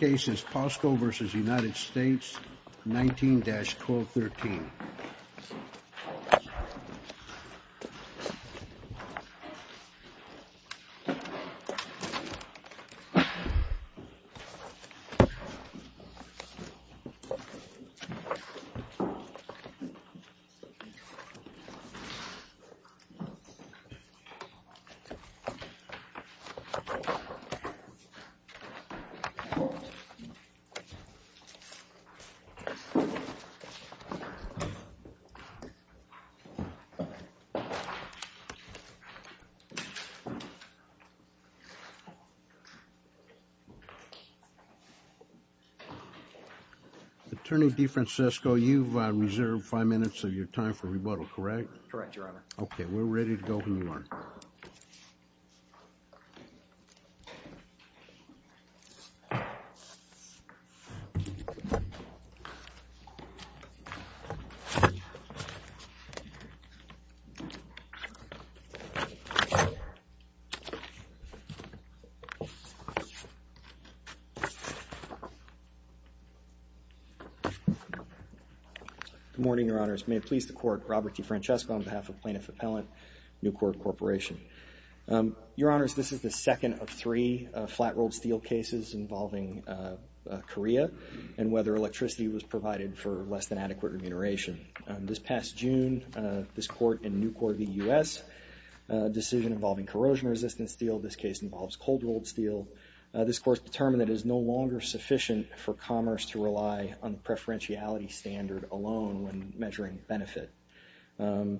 case is POSCO v. United States 19-1213. Attorney DeFrancisco, you've reserved five minutes of your time for rebuttal, correct? Correct, Your Honor. Okay, we're ready to go if we want. Good morning, Your Honors. May it please the Court, Robert DeFrancisco on behalf of Plaintiff Appellant, New Court Corporation. Your Honors, this is the second of three flat-rolled steel cases involving Korea and whether electricity was provided for less than adequate remuneration. This past June, this Court in New Court v. U.S., a decision involving corrosion-resistant steel, this case involves cold-rolled steel, this Court's determined that it is no longer sufficient for commerce to rely on preferentiality standard alone when measuring benefit. The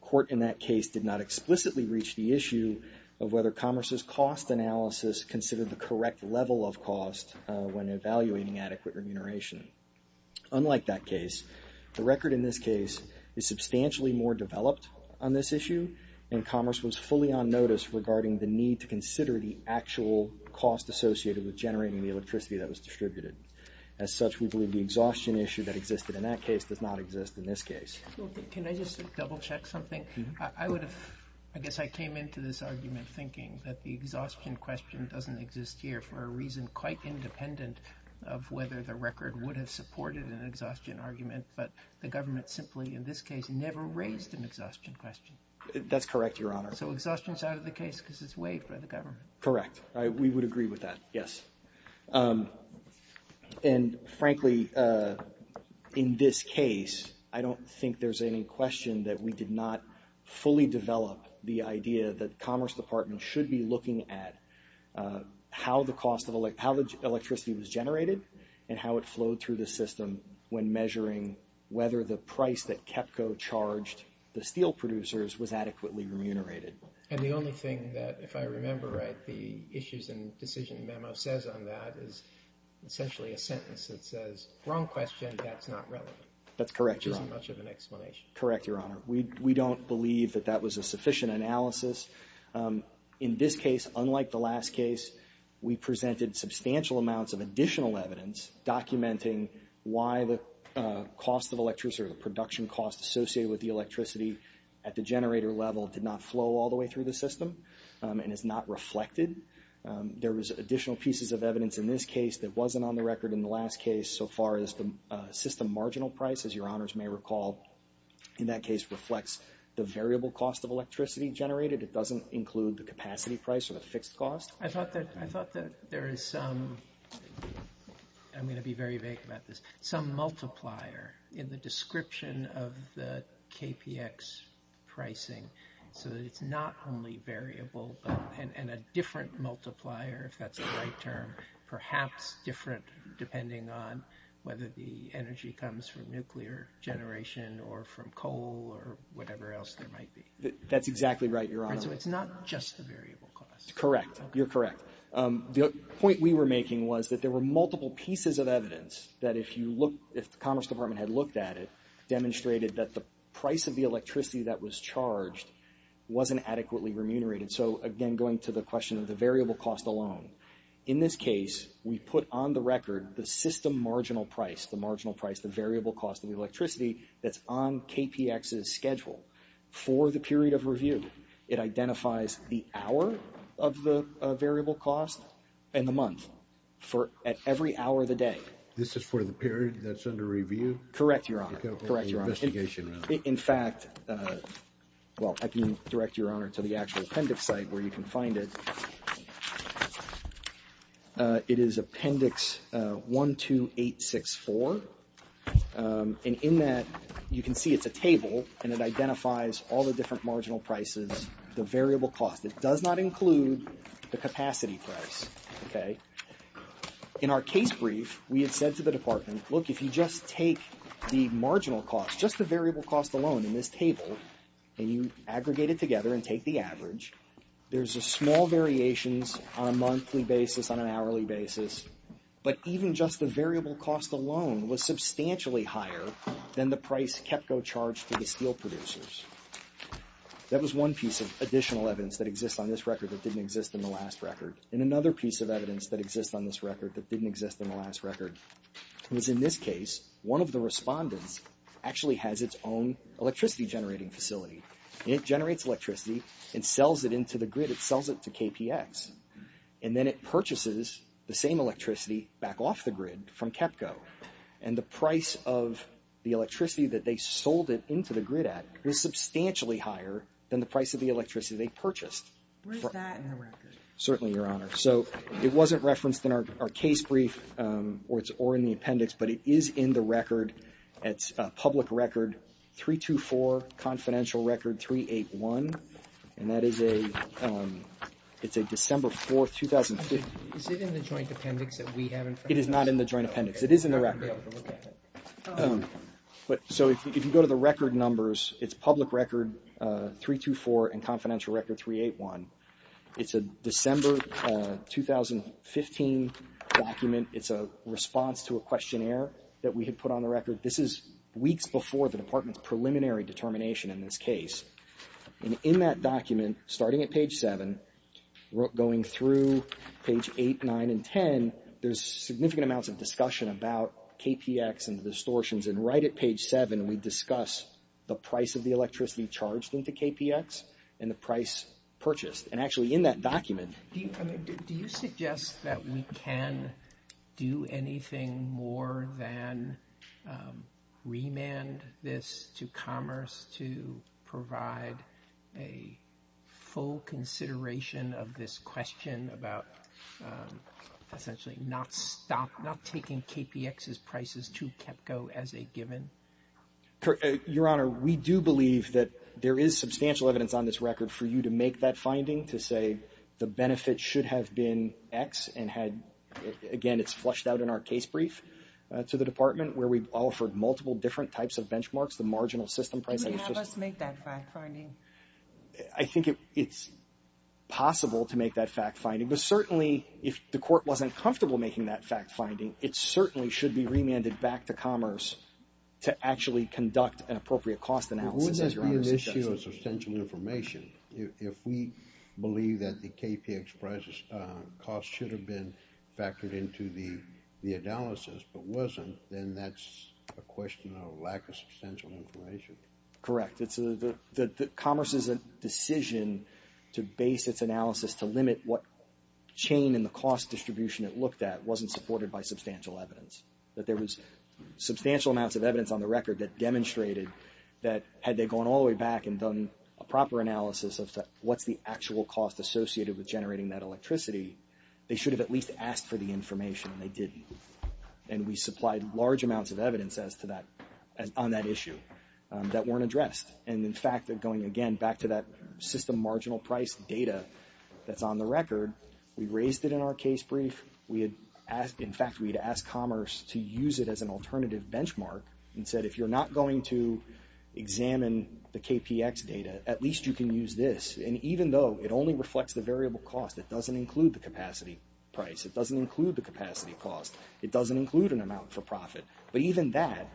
Court in that case did not explicitly reach the issue of whether commerce's cost analysis considered the correct level of cost when evaluating adequate remuneration. Unlike that case, the record in this case is substantially more developed on this issue and commerce was fully on notice regarding the need to consider the actual cost associated with generating the electricity that was distributed. As such, we believe the exhaustion issue that existed in that case does not exist in this case. Can I just double-check something? I guess I came into this argument thinking that the exhaustion question doesn't exist here for a reason quite independent of whether the record would have supported an exhaustion argument, but the government simply, in this case, never raised an exhaustion question. That's correct, Your Honor. So exhaustion's out of the case because it's waived by the government. Correct. We would agree with that, yes. And frankly, in this case, I don't think there's any question that we did not fully develop the idea that Commerce Department should be looking at how the cost of electricity was generated and how it flowed through the system when measuring whether the price that KEPCO charged the steel producers was adequately remunerated. And the only thing that, if I remember right, the issues and decision memo says on that is essentially a sentence that says, wrong question, that's not relevant. That's correct, Your Honor. Which isn't much of an explanation. Correct, Your Honor. We don't believe that that was a sufficient analysis. In this case, unlike the last case, we presented substantial amounts of additional evidence documenting why the cost of electricity or the production cost associated with the electricity at the generator level did not flow all the way through the system and is not reflected. There was additional pieces of evidence in this case that wasn't on the record in the last case so far as the system marginal price, as Your Honors may recall, in that case reflects the variable cost of electricity generated. It doesn't include the capacity price or the fixed cost. I thought that there is some, I'm going to be very vague about this, some multiplier in the description of the KPX pricing so that it's not only variable and a different multiplier, if that's the right term, perhaps different depending on whether the energy comes from nuclear generation or from coal or whatever else there might be. That's exactly right, Your Honor. So it's not just the variable cost. Correct, you're correct. The point we were making was that there were multiple pieces of evidence that if you look, if the Commerce Department had looked at it, demonstrated that the price of the electricity that was charged wasn't adequately remunerated. So, again, going to the question of the variable cost alone. In this case, we put on the record the system marginal price, the marginal price, the variable cost of electricity that's on KPX's schedule for the period of review. It identifies the hour of the variable cost and the month at every hour of the day. This is for the period that's under review? Correct, Your Honor. Correct, Your Honor. In fact, well, I can direct Your Honor to the actual appendix site where you can find it. It is appendix 12864, and in that you can see it's a table, and it identifies all the different marginal prices, the variable cost. It does not include the capacity price, okay? In our case brief, we had said to the department, look, if you just take the marginal cost, just the variable cost alone in this table, and you aggregate it together and take the average, there's small variations on a monthly basis, on an hourly basis, but even just the variable cost alone was substantially higher than the price KEPCO charged to the steel producers. That was one piece of additional evidence that exists on this record that didn't exist in the last record, and another piece of evidence that exists on this record that didn't exist in the last record was in this case, one of the respondents actually has its own electricity generating facility. It generates electricity and sells it into the grid. It sells it to KPX, and then it purchases the same electricity back off the grid from KEPCO, and the price of the electricity that they sold it into the grid at is substantially higher than the price of the electricity they purchased. Where is that in the record? Certainly, Your Honor. So it wasn't referenced in our case brief or in the appendix, but it is in the record. It's public record 324, confidential record 381, and that is a December 4, 2015. Is it in the joint appendix that we have in front of us? It is not in the joint appendix. It is in the record. So if you go to the record numbers, it's public record 324 and confidential record 381. It's a December 2015 document. It's a response to a questionnaire that we had put on the record. This is weeks before the Department's preliminary determination in this case. And in that document, starting at page 7, going through page 8, 9, and 10, there's significant amounts of discussion about KPX and the distortions, and right at page 7 we discuss the price of the electricity charged into KPX and the price purchased. And actually in that document. Do you suggest that we can do anything more than remand this to Commerce to provide a full consideration of this question about essentially not stop, not taking KPX's prices to KEPCO as a given? Your Honor, we do believe that there is substantial evidence on this record for you to make that finding to say the benefit should have been X and had, again, it's flushed out in our case brief to the Department where we've offered multiple different types of benchmarks, the marginal system prices. Would you have us make that fact finding? I think it's possible to make that fact finding, but certainly if the Court wasn't comfortable making that fact finding, it certainly should be remanded back to Commerce to actually conduct an appropriate cost analysis, as Your Honor suggests. But wouldn't that be an issue of substantial information? If we believe that the KPX price should have been factored into the analysis but wasn't, then that's a question of lack of substantial information. Correct. Commerce's decision to base its analysis to limit what chain in the cost distribution it looked at wasn't supported by substantial evidence, that there was substantial amounts of evidence on the record that demonstrated that had they gone all the way back and done a proper analysis of what's the actual cost associated with generating that electricity, they should have at least asked for the information, and they didn't. And we supplied large amounts of evidence on that issue that weren't addressed. And in fact, going again back to that system marginal price data that's on the record, we raised it in our case brief. In fact, we had asked Commerce to use it as an alternative benchmark and said if you're not going to examine the KPX data, at least you can use this. And even though it only reflects the variable cost, it doesn't include the capacity price. It doesn't include the capacity cost. It doesn't include an amount for profit. But even that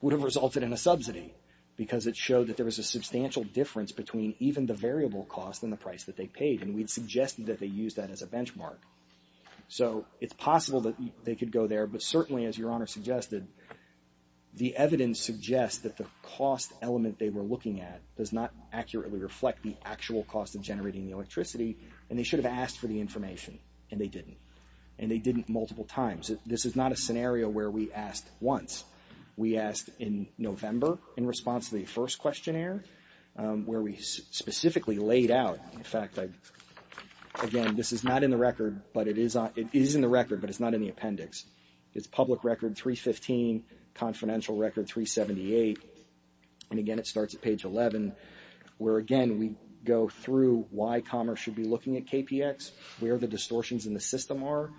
would have resulted in a subsidy because it showed that there was a substantial difference between even the variable cost and the price that they paid, and we'd suggested that they use that as a benchmark. So it's possible that they could go there, but certainly, as Your Honor suggested, the evidence suggests that the cost element they were looking at does not accurately reflect the actual cost of generating the electricity, and they should have asked for the information, and they didn't. And they didn't multiple times. This is not a scenario where we asked once. We asked in November in response to the first questionnaire where we specifically laid out, in fact, again, this is not in the record, but it is in the record, but it's not in the appendix. It's public record 315, confidential record 378, and again, it starts at page 11, where, again, we go through why commerce should be looking at KPX, where the distortions in the system are,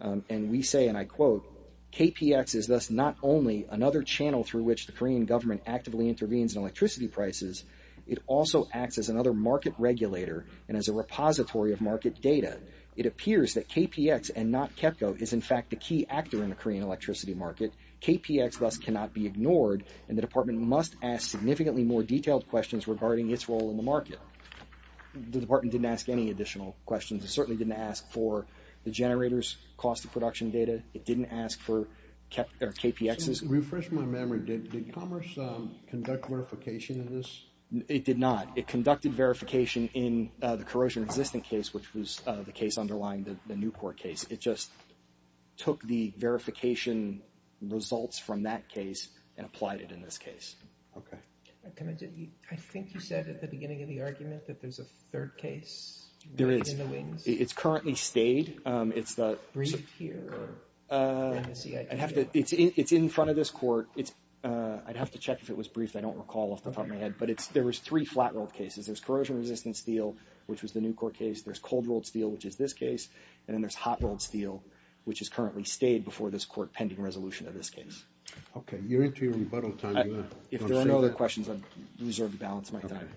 and we say, and I quote, KPX is thus not only another channel through which the Korean government actively intervenes in electricity prices, it also acts as another market regulator and as a repository of market data. It appears that KPX and not KEPCO is, in fact, the key actor in the Korean electricity market. KPX thus cannot be ignored, and the department must ask significantly more detailed questions regarding its role in the market. The department didn't ask any additional questions. It certainly didn't ask for the generator's cost of production data. It didn't ask for KPX's. To refresh my memory, did commerce conduct verification of this? It did not. It conducted verification in the corrosion-resistant case, which was the case underlying the Newport case. It just took the verification results from that case and applied it in this case. Okay. I think you said at the beginning of the argument that there's a third case in the wings. There is. It's currently stayed. Is it briefed here? It's in front of this court. I'd have to check if it was briefed. I don't recall off the top of my head. But there was three flat-rolled cases. There's corrosion-resistant steel, which was the Newport case. There's cold-rolled steel, which is this case. And then there's hot-rolled steel, which has currently stayed before this court pending resolution of this case. Okay. You're into your rebuttal time. If there are no other questions, I've reserved the balance of my time.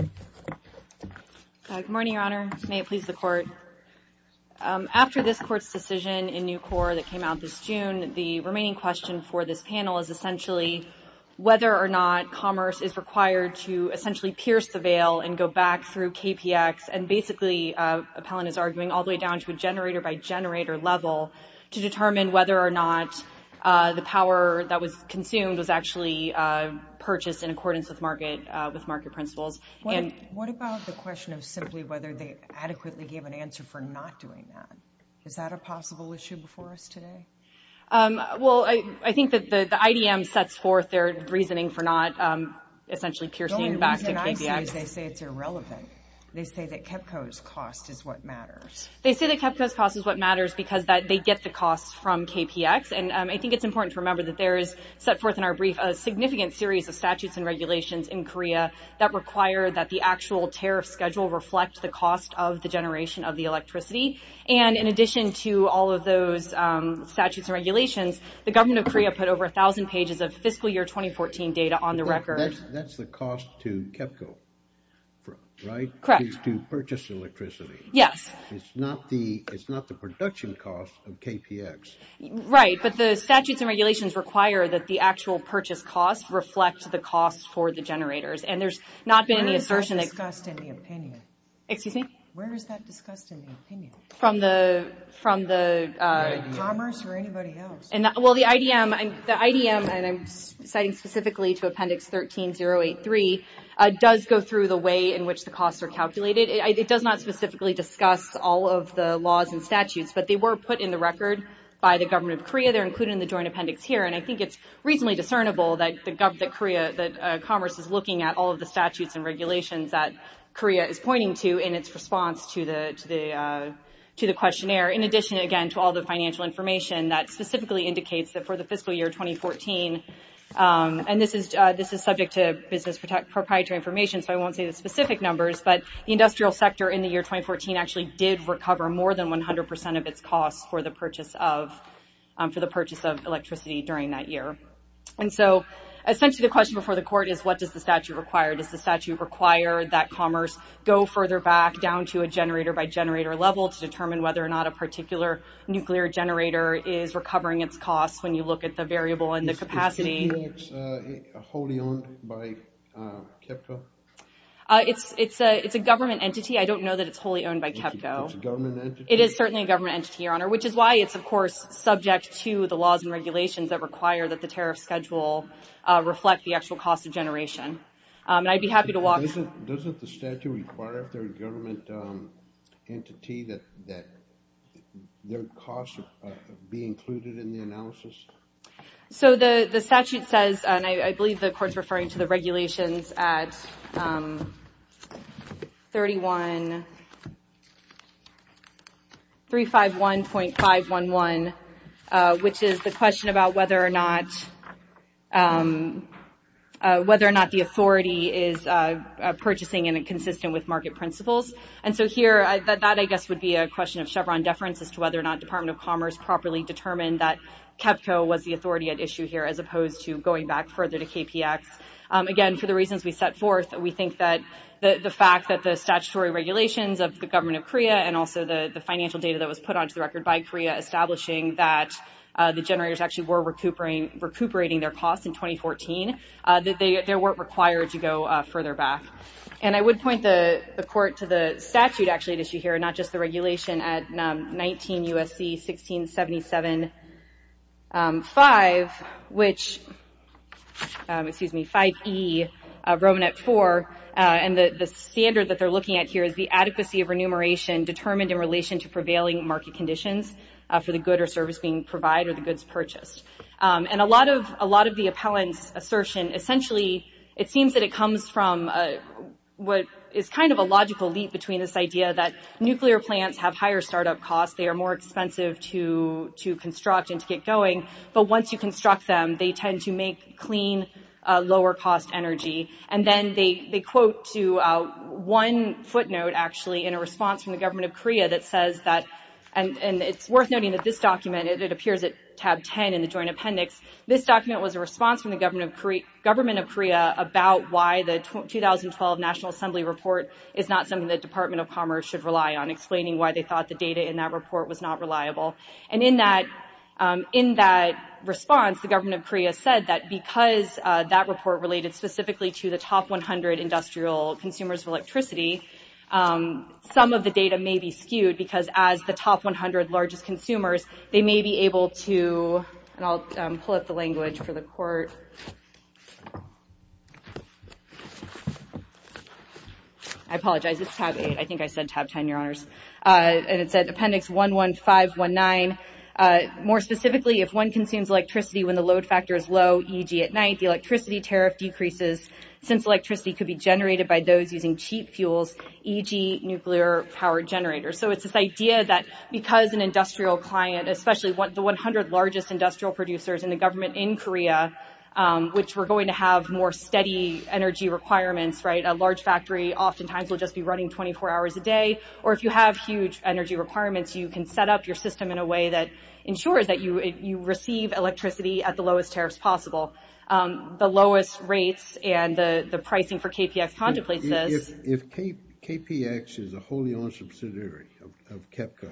Okay. Good morning, Your Honor. May it please the Court. After this Court's decision in New Court that came out this June, the remaining question for this panel is essentially whether or not commerce is required to essentially pierce the veil and go back through KPX and basically, Appellant is arguing, all the way down to a generator-by-generator level to determine whether or not the power that was consumed was actually purchased in accordance with market principles. What about the question of simply whether they adequately gave an answer for not doing that? Is that a possible issue before us today? Well, I think that the IDM sets forth their reasoning for not essentially piercing back to KPX. The only reason I see is they say it's irrelevant. They say that KEPCO's cost is what matters. They say that KEPCO's cost is what matters because they get the costs from KPX. And I think it's important to remember that there is set forth in our brief a significant series of statutes and regulations in Korea that require that the actual tariff schedule reflect the cost of the generation of the electricity. And in addition to all of those statutes and regulations, the government of Korea put over 1,000 pages of fiscal year 2014 data on the record. That's the cost to KEPCO, right? Correct. To purchase electricity. Yes. It's not the production cost of KPX. Right, but the statutes and regulations require that the actual purchase costs reflect the costs for the generators. And there's not been any assertion that... Where is that discussed in the opinion? Excuse me? Where is that discussed in the opinion? From the commerce or anybody else? Well, the IDM, and I'm citing specifically to Appendix 13083, does go through the way in which the costs are calculated. It does not specifically discuss all of the laws and statutes, but they were put in the record by the government of Korea. They're included in the joint appendix here, and I think it's reasonably discernible that commerce is looking at all of the statutes and regulations that Korea is pointing to in its response to the questionnaire, in addition, again, to all the financial information that specifically indicates that for the fiscal year 2014, and this is subject to business proprietary information, so I won't say the specific numbers, but the industrial sector in the year 2014 actually did recover more than 100% of its costs for the purchase of electricity during that year. And so, essentially, the question before the court is, what does the statute require? Does the statute require that commerce go further back down to a generator-by-generator level to determine whether or not a particular nuclear generator is recovering its costs when you look at the variable and the capacity? Is T-Max wholly owned by KEPCO? It's a government entity. I don't know that it's wholly owned by KEPCO. It's a government entity? It is certainly a government entity, Your Honor, which is why it's, of course, subject to the laws and regulations that require that the tariff schedule reflect the actual cost of generation. And I'd be happy to walk... Doesn't the statute require, if they're a government entity, that their costs be included in the analysis? So the statute says, and I believe the court's referring to the regulations at 3151.511, which is the question about whether or not the authority is purchasing in a consistent with market principles. And so here, that, I guess, would be a question of Chevron deference as to whether or not Department of Commerce properly determined that KEPCO was the authority at issue here as opposed to going back further to KPX. Again, for the reasons we set forth, we think that the fact that the statutory regulations of the government of Korea and also the financial data that was put onto the record by Korea establishing that the generators actually were recuperating their costs in 2014, that they weren't required to go further back. And I would point the court to the statute actually at issue here, not just the regulation at 19 U.S.C. 1677.5, which, excuse me, 5E, Roman at 4, and the standard that they're looking at here is the adequacy of remuneration determined in relation to prevailing market conditions. For the good or service being provided or the goods purchased. And a lot of the appellant's assertion, essentially it seems that it comes from what is kind of a logical leap between this idea that nuclear plants have higher startup costs, they are more expensive to construct and to get going, but once you construct them, they tend to make clean, lower cost energy. And then they quote to one footnote actually in a response from the government of Korea that says that, and it's worth noting that this document, it appears at tab 10 in the joint appendix, this document was a response from the government of Korea about why the 2012 National Assembly report is not something the Department of Commerce should rely on, explaining why they thought the data in that report was not reliable. And in that response, the government of Korea said that because that report related specifically to the top 100 industrial consumers of electricity, some of the data may be skewed because as the top 100 largest consumers, they may be able to, and I'll pull up the language for the court. I apologize, it's tab 8, I think I said tab 10, your honors. And it said appendix 11519, more specifically, if one consumes electricity when the load factor is low, e.g. at night, the electricity tariff decreases, since electricity could be generated by those using cheap fuels, e.g. nuclear power generators. So it's this idea that because an industrial client, especially the 100 largest industrial producers in the government in Korea, which were going to have more steady energy requirements, a large factory oftentimes will just be running 24 hours a day, or if you have huge energy requirements, you can set up your system in a way that ensures that you receive electricity at the lowest tariffs possible. The lowest rates and the pricing for KPX contemplates this. If KPX is a wholly owned subsidiary of KEPCO,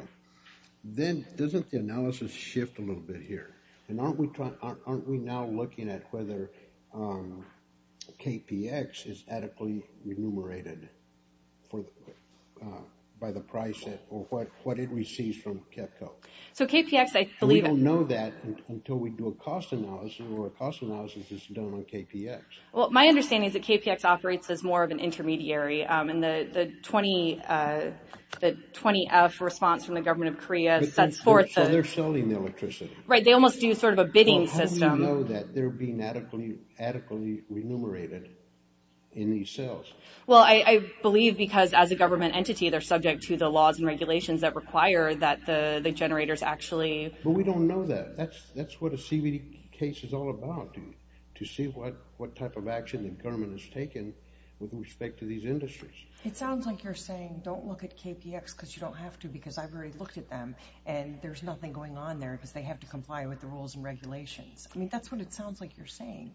then doesn't the analysis shift a little bit here? And aren't we now looking at whether KPX is adequately remunerated by the price set or what it receives from KEPCO? We don't know that until we do a cost analysis, or a cost analysis is done on KPX. Well, my understanding is that KPX operates as more of an intermediary, and the 20F response from the government of Korea sets forth... So they're selling the electricity. Right, they almost do sort of a bidding system. How do you know that they're being adequately remunerated in these cells? Well, I believe because as a government entity, they're subject to the laws and regulations that require that the generators actually... But we don't know that. That's what a CBD case is all about, to see what type of action the government has taken with respect to these industries. It sounds like you're saying, don't look at KPX because you don't have to, because I've already looked at them, and there's nothing going on there because they have to comply with the rules and regulations. I mean, that's what it sounds like you're saying.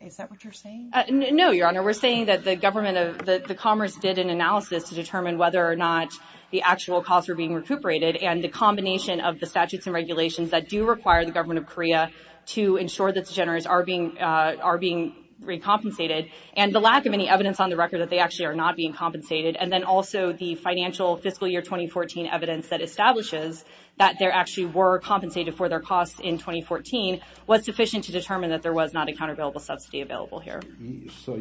Is that what you're saying? No, Your Honor, we're saying that the government of... that the Commerce did an analysis to determine whether or not the actual costs were being recuperated, and the combination of the statutes and regulations that do require the government of Korea to ensure that the generators are being... are being recompensated, and the lack of any evidence on the record that they actually are not being compensated, and then also the financial fiscal year 2014 evidence that establishes that there actually were compensated for their costs in 2014 was sufficient to determine that there was not a countervailable subsidy available here. So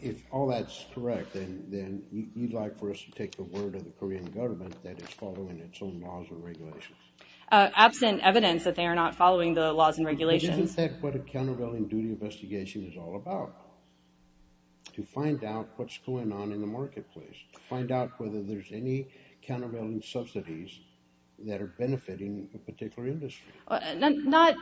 if all that's correct, then you'd like for us to take the word of the Korean government that it's following its own laws and regulations? Absent evidence that they are not following the laws and regulations. But isn't that what a countervailing duty investigation is all about? To find out what's going on in the marketplace. To find out whether there's any countervailing subsidies that are benefiting a particular industry. Not...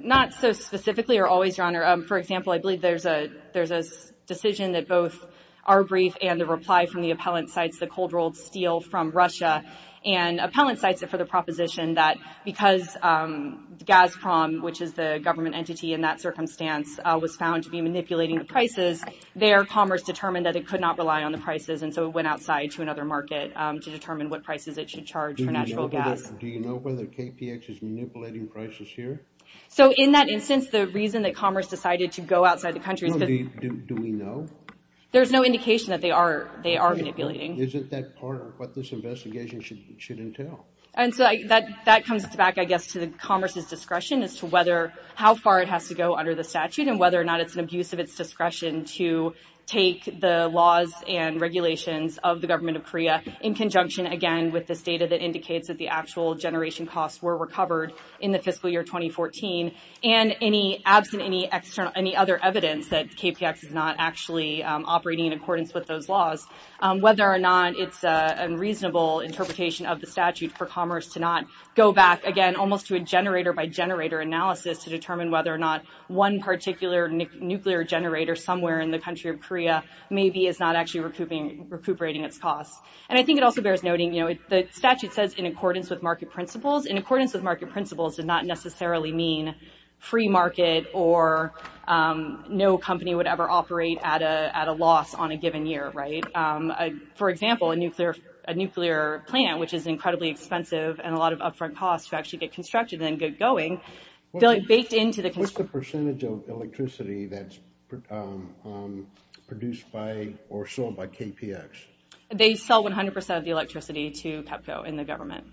not so specifically or always, Your Honor. For example, I believe there's a... there's a decision that both our brief and the reply from the appellant cites the cold-rolled steal from Russia, and appellant cites it for the proposition that because Gazprom, which is the government entity in that circumstance, was found to be manipulating the prices, their commerce determined that it could not rely on the prices and so it went outside to another market to determine what prices it should charge for natural gas. Do you know whether KPX is manipulating prices here? So in that instance, the reason that commerce decided to go outside the country... Do we know? There's no indication that they are manipulating. Isn't that part of what this investigation should entail? That comes back, I guess, to the commerce's discretion as to whether... how far it has to go under the statute and whether or not it's an abuse of its discretion to take the laws and regulations of the government of Korea in conjunction, again, with this data that indicates that the actual generation costs were recovered in the fiscal year 2014 and any... absent any other evidence that KPX is not actually operating in accordance with those laws, whether or not it's a reasonable interpretation of the statute for commerce to not go back, again, almost to a generator-by-generator analysis to determine whether or not one particular nuclear generator somewhere in the country of Korea maybe is not actually recuperating its costs. And I think it also bears noting, you know, the statute says in accordance with market principles. In accordance with market principles does not necessarily mean free market or no company would ever operate at a loss on a given year, right? For example, a nuclear plant, which is incredibly expensive and a lot of upfront costs to actually get constructed and get going, baked into the... What's the percentage of electricity that's produced by or sold by KPX? They sell 100% of the electricity to PEPCO in the government.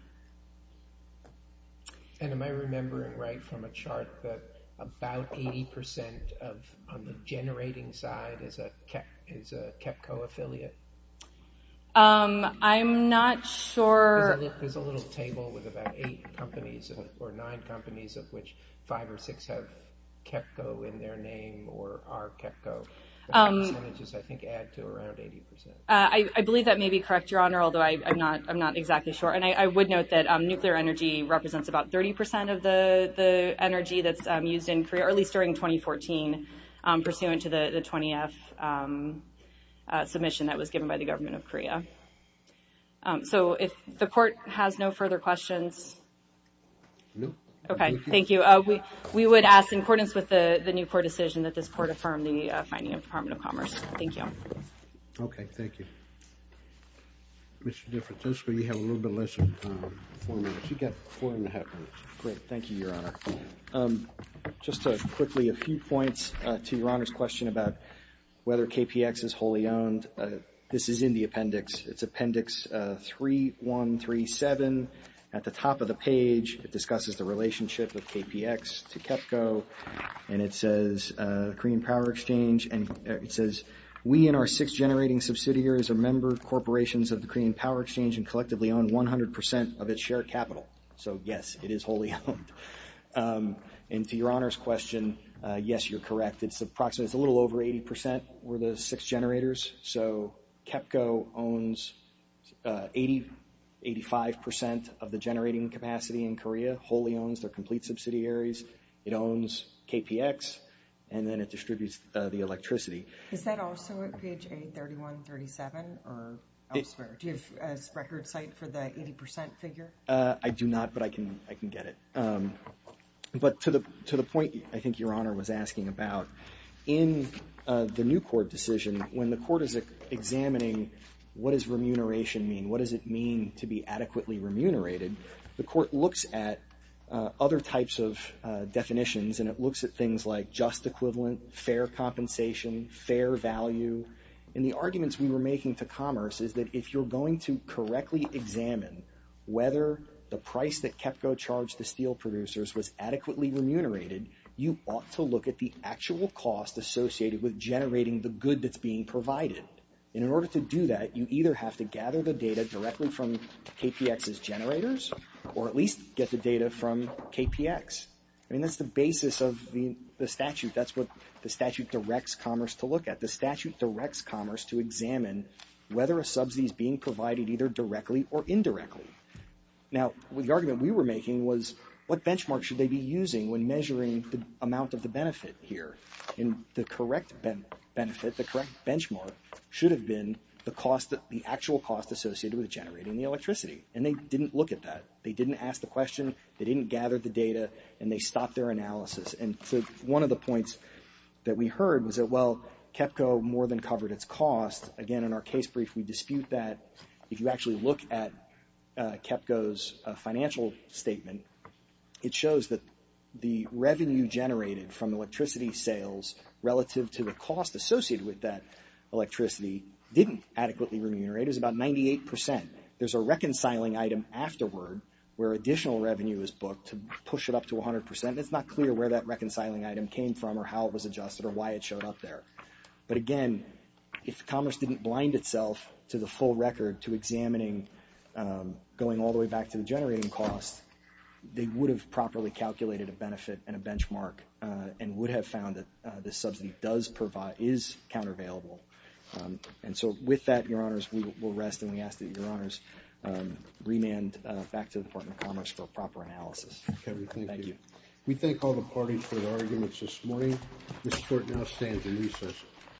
And am I remembering right from a chart that about 80% of the generating side is a KEPCO affiliate? I'm not sure... There's a little table with about 8 companies or 9 companies of which 5 or 6 have KEPCO in their name or are KEPCO. The percentages, I think, add to around 80%. I believe that may be correct, Your Honor, although I'm not exactly sure. And I would note that nuclear energy represents about 30% of the energy produced during 2014 pursuant to the 20th submission that was given by the government of Korea. So if the Court has no further questions... No. Okay, thank you. We would ask in accordance with the new Court decision that this Court affirm the finding of the Department of Commerce. Thank you. Okay, thank you. Mr. DeFrantisco, you have a little bit less than four minutes. You've got four and a half minutes. Great, thank you, Your Honor. Just quickly, a few points to Your Honor's question about whether KPX is wholly owned. This is in the appendix. It's Appendix 3137. At the top of the page it discusses the relationship of KPX to KEPCO and it says Korean Power Exchange and it says we and our six generating subsidiaries are member corporations of the Korean Power Exchange and collectively own 100% of its share capital. So yes, it is wholly owned. And to Your Honor's question, yes, you're correct. It's approximately, it's a little over 80% were the six generators. So KEPCO owns 85% of the generating capacity in Korea, wholly owns their complete subsidiaries. It owns KPX and then it distributes the electricity. Is that also at page 83137 or elsewhere? Do you have a record site for the 80% figure? I do not, but I can get it. But to the point I think Your Honor was asking about, in the new court decision, when the court is examining what does remuneration mean, what does it mean to be adequately remunerated, the court looks at other types of definitions and it looks at things like just equivalent, fair compensation, fair value and the arguments we were making to correctly examine whether the price that KEPCO charged the steel producers was adequately remunerated, you ought to look at the actual cost associated with generating the good that's being provided. In order to do that, you either have to gather the data directly from KPX's generators or at least get the data from KPX. I mean, that's the basis of the statute. That's what the statute directs commerce to look at. The statute directs commerce to examine whether a subsidy is being provided either directly or indirectly. Now, the argument we were making was what benchmark should they be using when measuring the amount of the benefit here? And the correct benefit, the correct benchmark should have been the actual cost associated with generating the electricity. And they didn't look at that. They didn't ask the question, they didn't gather the data and they stopped their analysis. And so one of the points that we heard was that, well, KEPCO more than covered its cost. Again, in our case brief, we dispute that if you actually look at KEPCO's financial statement, it shows that the revenue generated from electricity sales relative to the cost associated with that electricity didn't adequately remunerate. It was about 98%. There's a reconciling item afterward where additional revenue is booked to push it up to 100%. It's not clear where that reconciling item came from or how it was Again, if Commerce didn't blind itself to the full record to examining going all the way back to the generating cost, they would have properly calculated a benefit and a benchmark and would have found that the subsidy is countervailable. And so with that, Your Honors, we will rest and we ask that Your Honors remand back to the Department of Commerce for a proper analysis. Thank you. We thank all the parties for their arguments this morning. This Court now stands in recess.